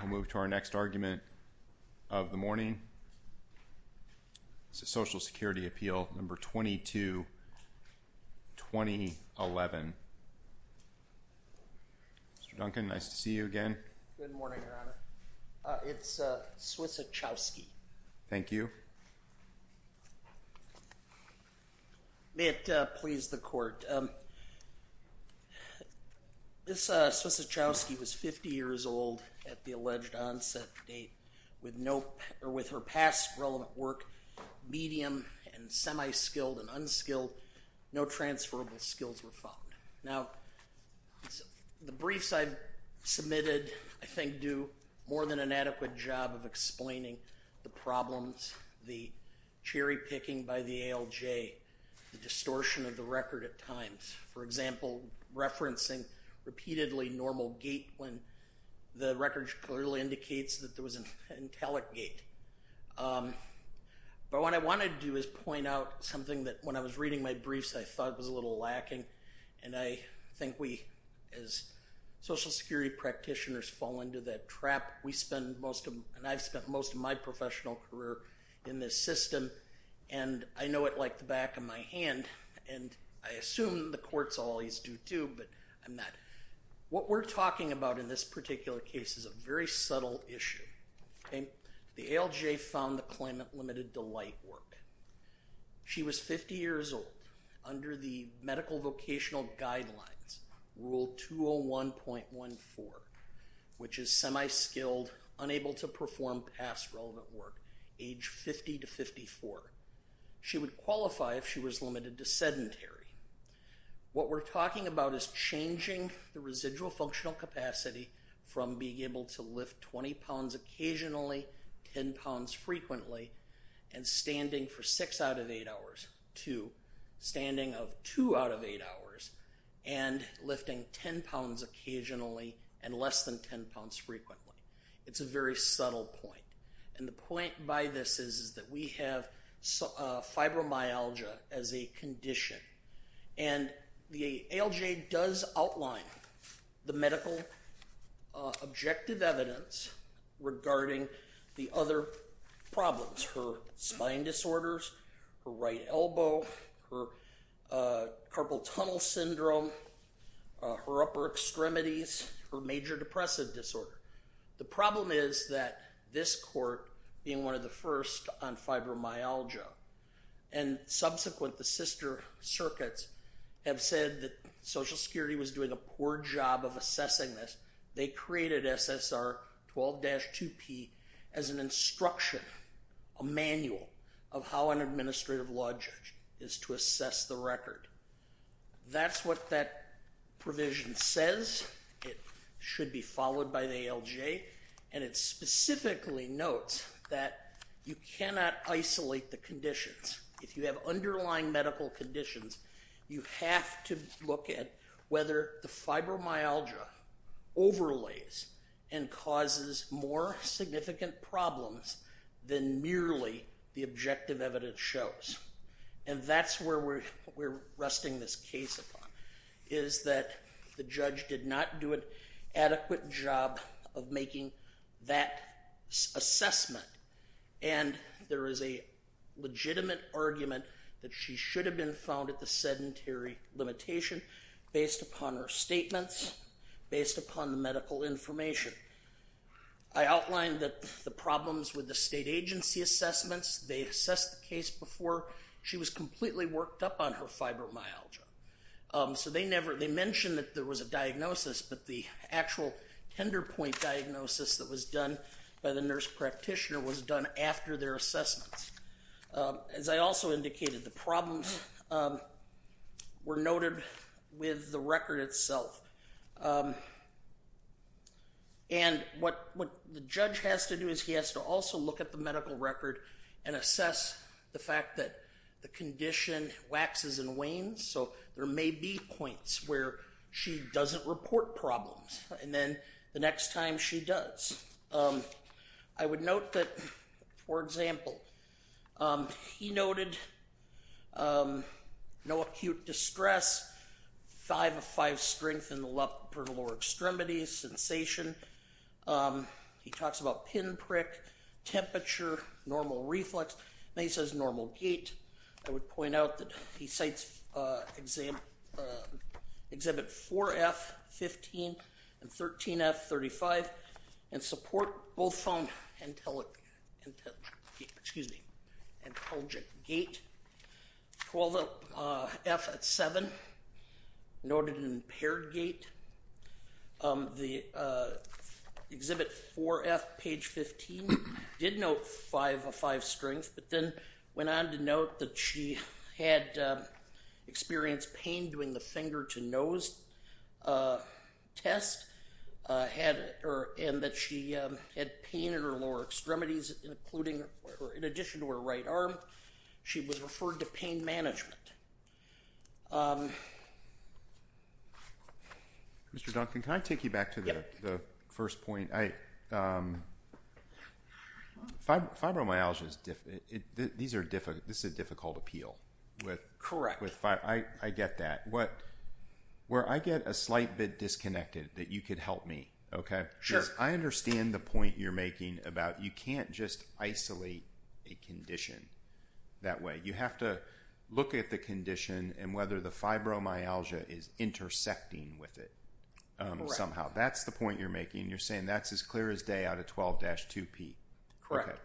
I'll move to our next argument of the morning. This is Social Security Appeal Number 22-2011. Mr. Duncan, nice to see you again. Good morning, Your Honor. It's Swiecichowski. Thank you. May it please the Court. This Swiecichowski was 50 years old at the alleged onset date. With her past relevant work, medium and semi-skilled and unskilled, no transferable skills were found. Now, the briefs I submitted, I think, do more than an adequate job of explaining the problems, the cherry picking by the ALJ, the distortion of the record at times. For example, referencing repeatedly normal gate when the record clearly indicates that there was an intelligate. But what I want to do is point out something that, when I was reading my briefs, I thought was a little lacking, and I think we, as Social Security practitioners, fall into that trap. We spend most of, and I've spent most of my professional career in this system, and I know it like the back of my hand, and I assume the courts always do too, but I'm not. What we're talking about in this particular case is a very subtle issue. The ALJ found the claimant limited to light work. She was 50 years old under the medical vocational guidelines, Rule 201.14, which is semi-skilled, unable to perform past relevant work, age 50 to 54. She would qualify if she was limited to sedentary. What we're talking about is changing the residual functional capacity from being able to lift 20 pounds occasionally, 10 pounds frequently, and standing for 6 out of 8 hours to standing of 2 out of 8 hours and lifting 10 pounds occasionally and less than 10 pounds frequently. It's a very subtle point, and the point by this is that we have fibromyalgia as a condition, and the ALJ does outline the medical objective evidence regarding the other problems, her spine disorders, her right elbow, her carpal tunnel syndrome, her upper extremities, her major depressive disorder. The problem is that this court, being one of the first on fibromyalgia, and subsequent the sister circuits have said that Social Security was doing a poor job of assessing this. They created SSR 12-2P as an instruction, a manual of how an administrative law judge is to assess the record. That's what that provision says. It should be followed by the ALJ, and it specifically notes that you cannot isolate the conditions. If you have underlying medical conditions, you have to look at whether the fibromyalgia overlays and causes more significant problems than merely the objective evidence shows, and that's where we're resting this case upon, is that the judge did not do an adequate job of making that assessment, and there is a legitimate argument that she should have been found at the sedentary limitation based upon her statements, based upon the medical information. I outlined the problems with the state agency assessments. They assessed the case before she was completely worked up on her fibromyalgia. So they mentioned that there was a diagnosis, but the actual tender point diagnosis that was done by the nurse practitioner was done after their assessments. As I also indicated, the problems were noted with the record itself, and what the judge has to do is he has to also look at the medical record and assess the fact that the condition waxes and wanes, so there may be points where she doesn't report problems, and then the next time she does. I would note that, for example, he noted no acute distress, five of five strength in the lower extremities, sensation. He talks about pinprick, temperature, normal reflux, and he says normal gait. I would point out that he cites Exhibit 4F, 15, and 13F, 35, and support both from antelgic gait, 12F at 7, noted impaired gait. The Exhibit 4F, page 15, did note five of five strength, but then went on to note that she had experienced pain doing the finger-to-nose test, and that she had pain in her lower extremities, in addition to her right arm. She was referred to pain management. Mr. Duncan, can I take you back to the first point? Fibromyalgia, this is a difficult appeal. Correct. I get that. Where I get a slight bit disconnected, that you could help me, okay? Sure. I understand the point you're making about you can't just isolate a condition that way. You have to look at the condition and whether the fibromyalgia is intersecting with it somehow. That's the point you're making. You're saying that's as clear as day out of 12-2P. Correct.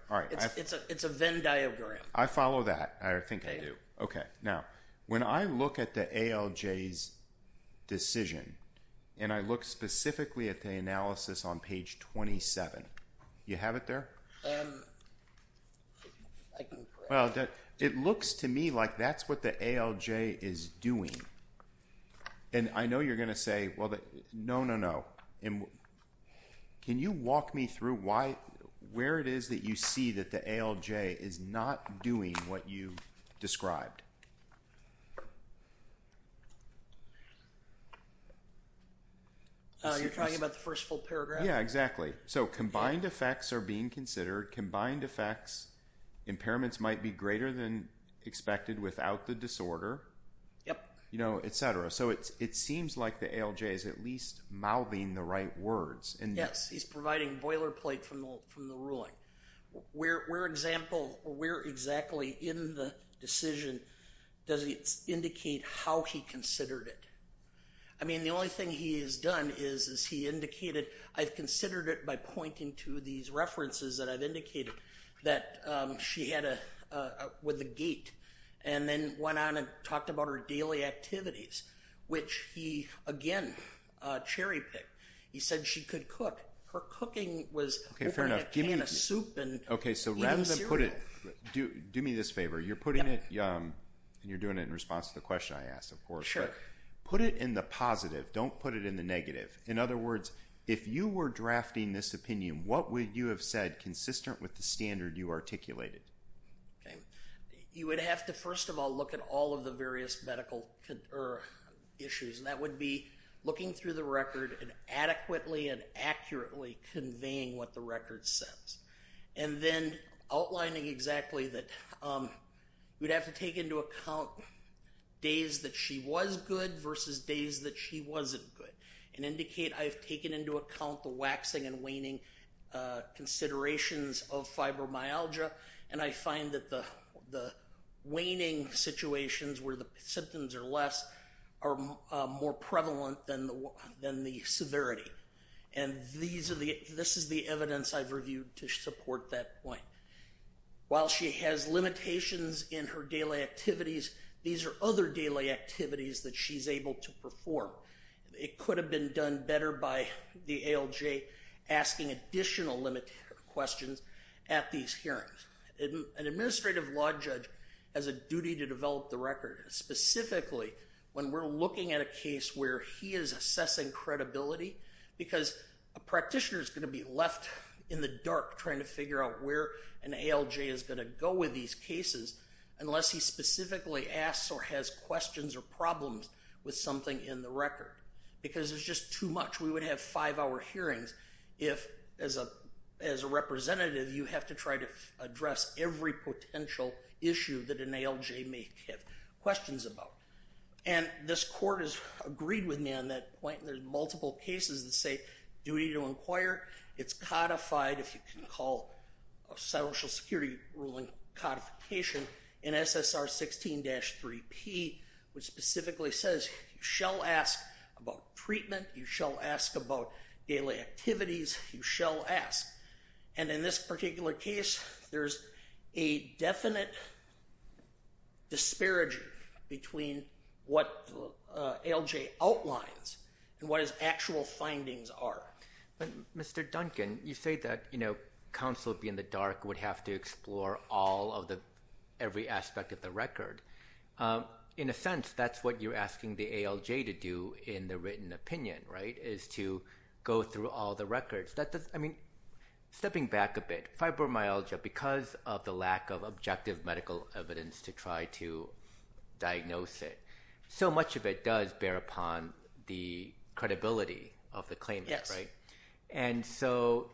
It's a Venn diagram. I follow that. I think I do. Okay. Now, when I look at the ALJ's decision, and I look specifically at the analysis on page 27, you have it there? I can correct that. It looks to me like that's what the ALJ is doing. I know you're going to say, no, no, no. Can you walk me through where it is that you see that the ALJ is not doing what you described? You're talking about the first full paragraph? Yeah, exactly. So combined effects are being considered. Combined effects, impairments might be greater than expected without the disorder, et cetera. So it seems like the ALJ is at least mouthing the right words. Yes, he's providing boilerplate from the ruling. Where exactly in the decision does it indicate how he considered it? I mean, the only thing he has done is he indicated, I've considered it by pointing to these references that I've indicated that she had with the gate, and then went on and talked about her daily activities, which he, again, cherry-picked. He said she could cook. Her cooking was opening a can of soup and eating cereal. Okay, so rather than put it, do me this favor. You're putting it, and you're doing it in response to the question I asked, of course. Put it in the positive. Don't put it in the negative. In other words, if you were drafting this opinion, what would you have said consistent with the standard you articulated? You would have to, first of all, look at all of the various medical issues. That would be looking through the record and adequately and accurately conveying what the record says. And then outlining exactly that you'd have to take into account days that she was good versus days that she wasn't good and indicate, I've taken into account the waxing and waning considerations of fibromyalgia, and I find that the waning situations where the symptoms are less are more prevalent than the severity. And this is the evidence I've reviewed to support that point. While she has limitations in her daily activities, these are other daily activities that she's able to perform. It could have been done better by the ALJ asking additional questions at these hearings. An administrative law judge has a duty to develop the record. Specifically, when we're looking at a case where he is assessing credibility, because a practitioner is going to be left in the dark trying to figure out where an ALJ is going to go with these cases, unless he specifically asks or has questions or problems with something in the record. Because it's just too much. We would have five-hour hearings if, as a representative, you have to try to address every potential issue that an ALJ may have questions about. And this court has agreed with me on that point. There's multiple cases that say duty to inquire. It's codified, if you can call a social security ruling codification in SSR 16-3P, which specifically says you shall ask about treatment, you shall ask about daily activities, you shall ask. And in this particular case, there's a definite disparaging between what ALJ outlines and what his actual findings are. Mr. Duncan, you say that counsel would be in the dark, would have to explore every aspect of the record. In a sense, that's what you're asking the ALJ to do in the written opinion, right, is to go through all the records. Stepping back a bit, fibromyalgia, because of the lack of objective medical evidence to try to diagnose it, so much of it does bear upon the credibility of the claimant, right? And so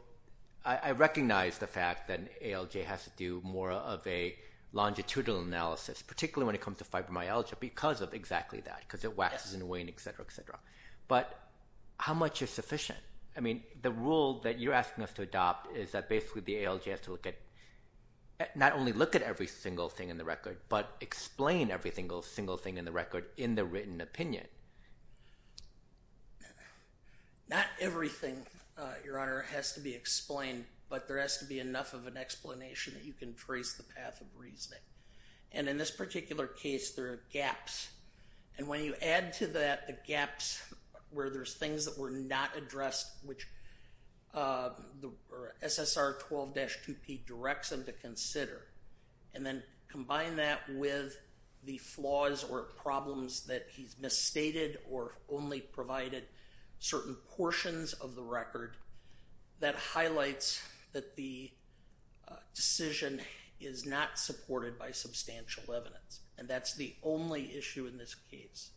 I recognize the fact that an ALJ has to do more of a longitudinal analysis, particularly when it comes to fibromyalgia, because of exactly that, because it waxes and wanes, et cetera, et cetera. But how much is sufficient? I mean, the rule that you're asking us to adopt is that basically the ALJ has to not only look at every single thing in the record, but explain every single thing in the record in the written opinion. Not everything, Your Honor, has to be explained, but there has to be enough of an explanation that you can trace the path of reasoning. And in this particular case, there are gaps. And when you add to that the gaps where there's things that were not addressed, which SSR 12-2P directs them to consider, and then combine that with the flaws or problems that he's misstated or only provided certain portions of the record, that highlights that the decision is not supported by substantial evidence. And that's the only issue in this case.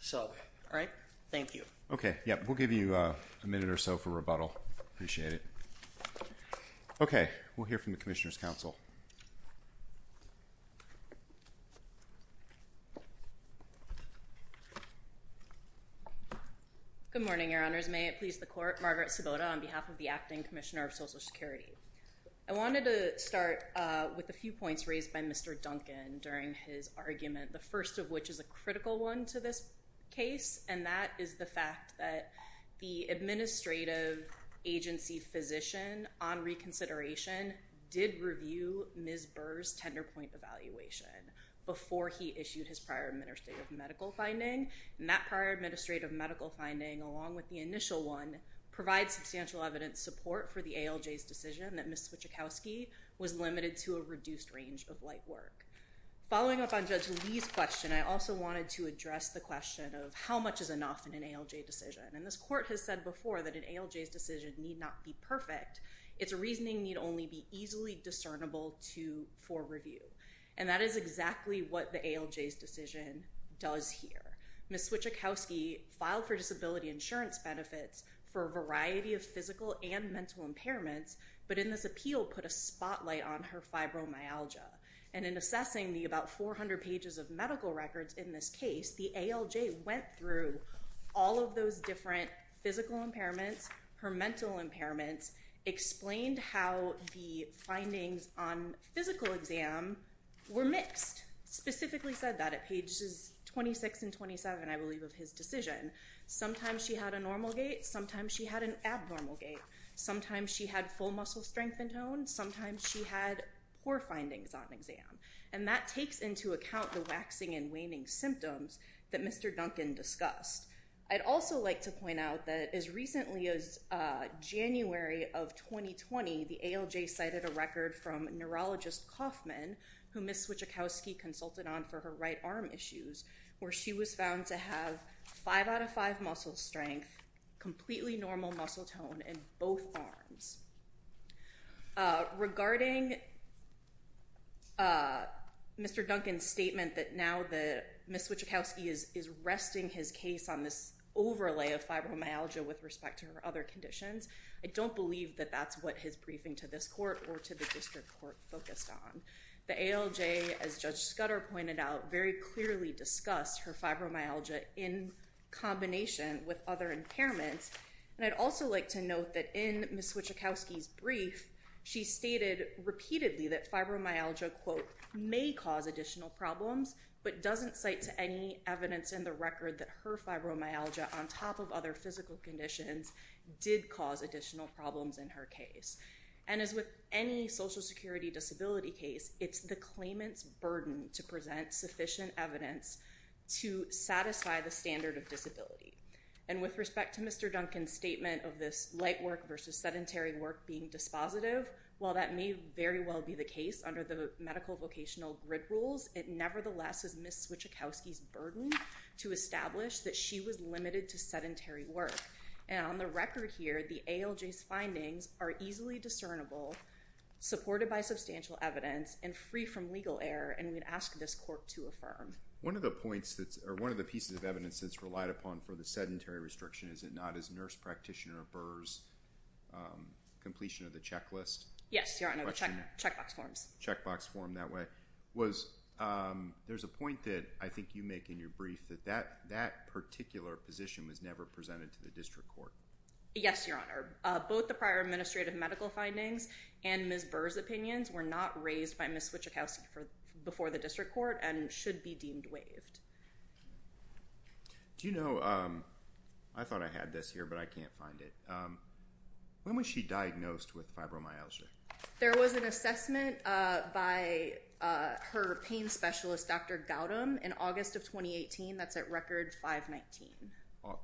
So, all right? Thank you. Okay. Yeah, we'll give you a minute or so for rebuttal. Appreciate it. Okay. We'll hear from the Commissioner's Council. Good morning, Your Honors. May it please the Court. Margaret Sabota on behalf of the Acting Commissioner of Social Security. I wanted to start with a few points raised by Mr. Duncan during his argument, the first of which is a critical one to this case, and that is the fact that the administrative agency physician on reconsideration did review Ms. Burr's tender point evaluation before he issued his prior administrative medical finding. And that prior administrative medical finding, along with the initial one, provides substantial evidence support for the ALJ's decision that Ms. Swieczkowski was limited to a reduced range of light work. Following up on Judge Lee's question, I also wanted to address the question of how much is enough in an ALJ decision. And this Court has said before that an ALJ's decision need not be perfect. Its reasoning need only be easily discernible for review. And that is exactly what the ALJ's decision does here. Ms. Swieczkowski filed for disability insurance benefits for a variety of physical and mental impairments, but in this appeal put a spotlight on her fibromyalgia. And in assessing the about 400 pages of medical records in this case, the ALJ went through all of those different physical impairments, her mental impairments, explained how the findings on physical exam were mixed. Specifically said that at pages 26 and 27, I believe, of his decision. Sometimes she had a normal gait. Sometimes she had an abnormal gait. Sometimes she had full muscle strength and tone. Sometimes she had poor findings on exam. And that takes into account the waxing and waning symptoms that Mr. Duncan discussed. I'd also like to point out that as recently as January of 2020, the ALJ cited a record from neurologist Kaufman, who Ms. Swieczkowski consulted on for her right arm issues, where she was found to have five out of five muscle strength, completely normal muscle tone in both arms. Regarding Mr. Duncan's statement that now Ms. Swieczkowski is resting his case on this overlay of fibromyalgia with respect to her other conditions, I don't believe that that's what his briefing to this court or to the district court focused on. The ALJ, as Judge Scudder pointed out, very clearly discussed her fibromyalgia in combination with other impairments. And I'd also like to note that in Ms. Swieczkowski's brief, she stated repeatedly that fibromyalgia, quote, may cause additional problems, but doesn't cite to any evidence in the record that her fibromyalgia, on top of other physical conditions, did cause additional problems in her case. And as with any Social Security disability case, it's the claimant's burden to present sufficient evidence to satisfy the standard of disability. And with respect to Mr. Duncan's statement of this light work versus sedentary work being dispositive, while that may very well be the case under the medical vocational grid rules, it nevertheless is Ms. Swieczkowski's burden to establish that she was limited to sedentary work. And on the record here, the ALJ's findings are easily discernible, supported by substantial evidence, and free from legal error, and we'd ask this court to affirm. One of the points that's – or one of the pieces of evidence that's relied upon for the sedentary restriction, is it not his nurse practitioner, Burr's, completion of the checklist? Yes, Your Honor, the checkbox forms. Checkbox form, that way. There's a point that I think you make in your brief that that particular position was never presented to the district court. Yes, Your Honor. Both the prior administrative medical findings and Ms. Burr's opinions were not raised by Ms. Swieczkowski before the district court and should be deemed waived. Do you know – I thought I had this here, but I can't find it. When was she diagnosed with fibromyalgia? There was an assessment by her pain specialist, Dr. Gautam, in August of 2018. That's at record 519.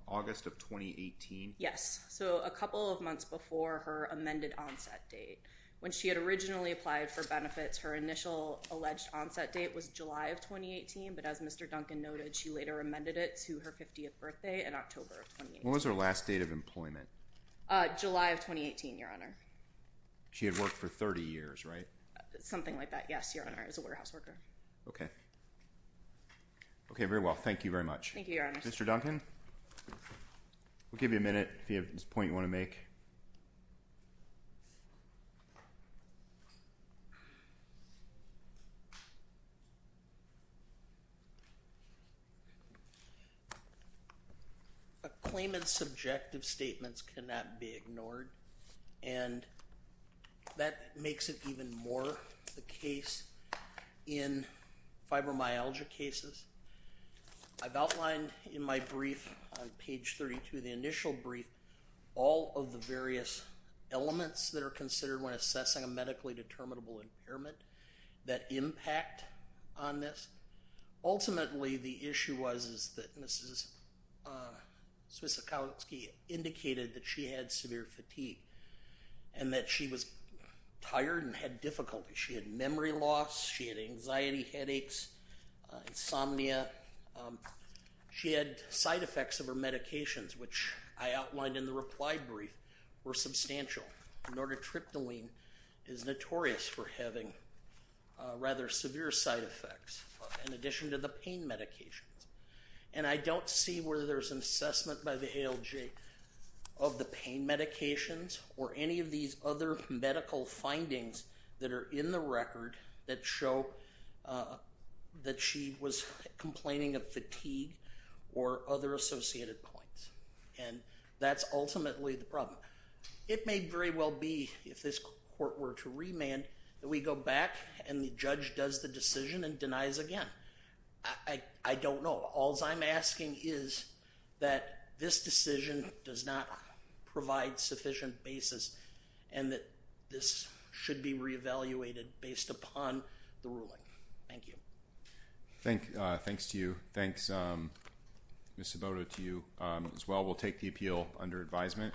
August of 2018? Yes, so a couple of months before her amended onset date. When she had originally applied for benefits, her initial alleged onset date was July of 2018, but as Mr. Duncan noted, she later amended it to her 50th birthday in October of 2018. When was her last date of employment? July of 2018, Your Honor. She had worked for 30 years, right? Something like that, yes, Your Honor. I was a warehouse worker. Okay. Okay, very well. Thank you very much. Thank you, Your Honor. Mr. Duncan, we'll give you a minute if you have a point you want to make. A claimant's subjective statements cannot be ignored, and that makes it even more the case in fibromyalgia cases. I've outlined in my brief on page 32, the initial brief, all of the various elements that are considered when assessing a medically determinable impairment that impact on this. Ultimately, the issue was that Mrs. Swiecikowski indicated that she had severe fatigue and that she was tired and had difficulty. She had memory loss. She had anxiety, headaches, insomnia. She had side effects of her medications, which I outlined in the reply brief, were substantial. Nortatriptyline is notorious for having rather severe side effects, in addition to the pain medications. And I don't see whether there's an assessment by the ALJ of the pain medications or any of these other medical findings that are in the record that show that she was complaining of fatigue or other associated points. And that's ultimately the problem. It may very well be, if this court were to remand, that we go back and the judge does the decision and denies again. I don't know. All I'm asking is that this decision does not provide sufficient basis and that this should be reevaluated based upon the ruling. Thank you. Thanks to you. Thanks, Ms. Sabota, to you as well. We'll take the appeal under advisement.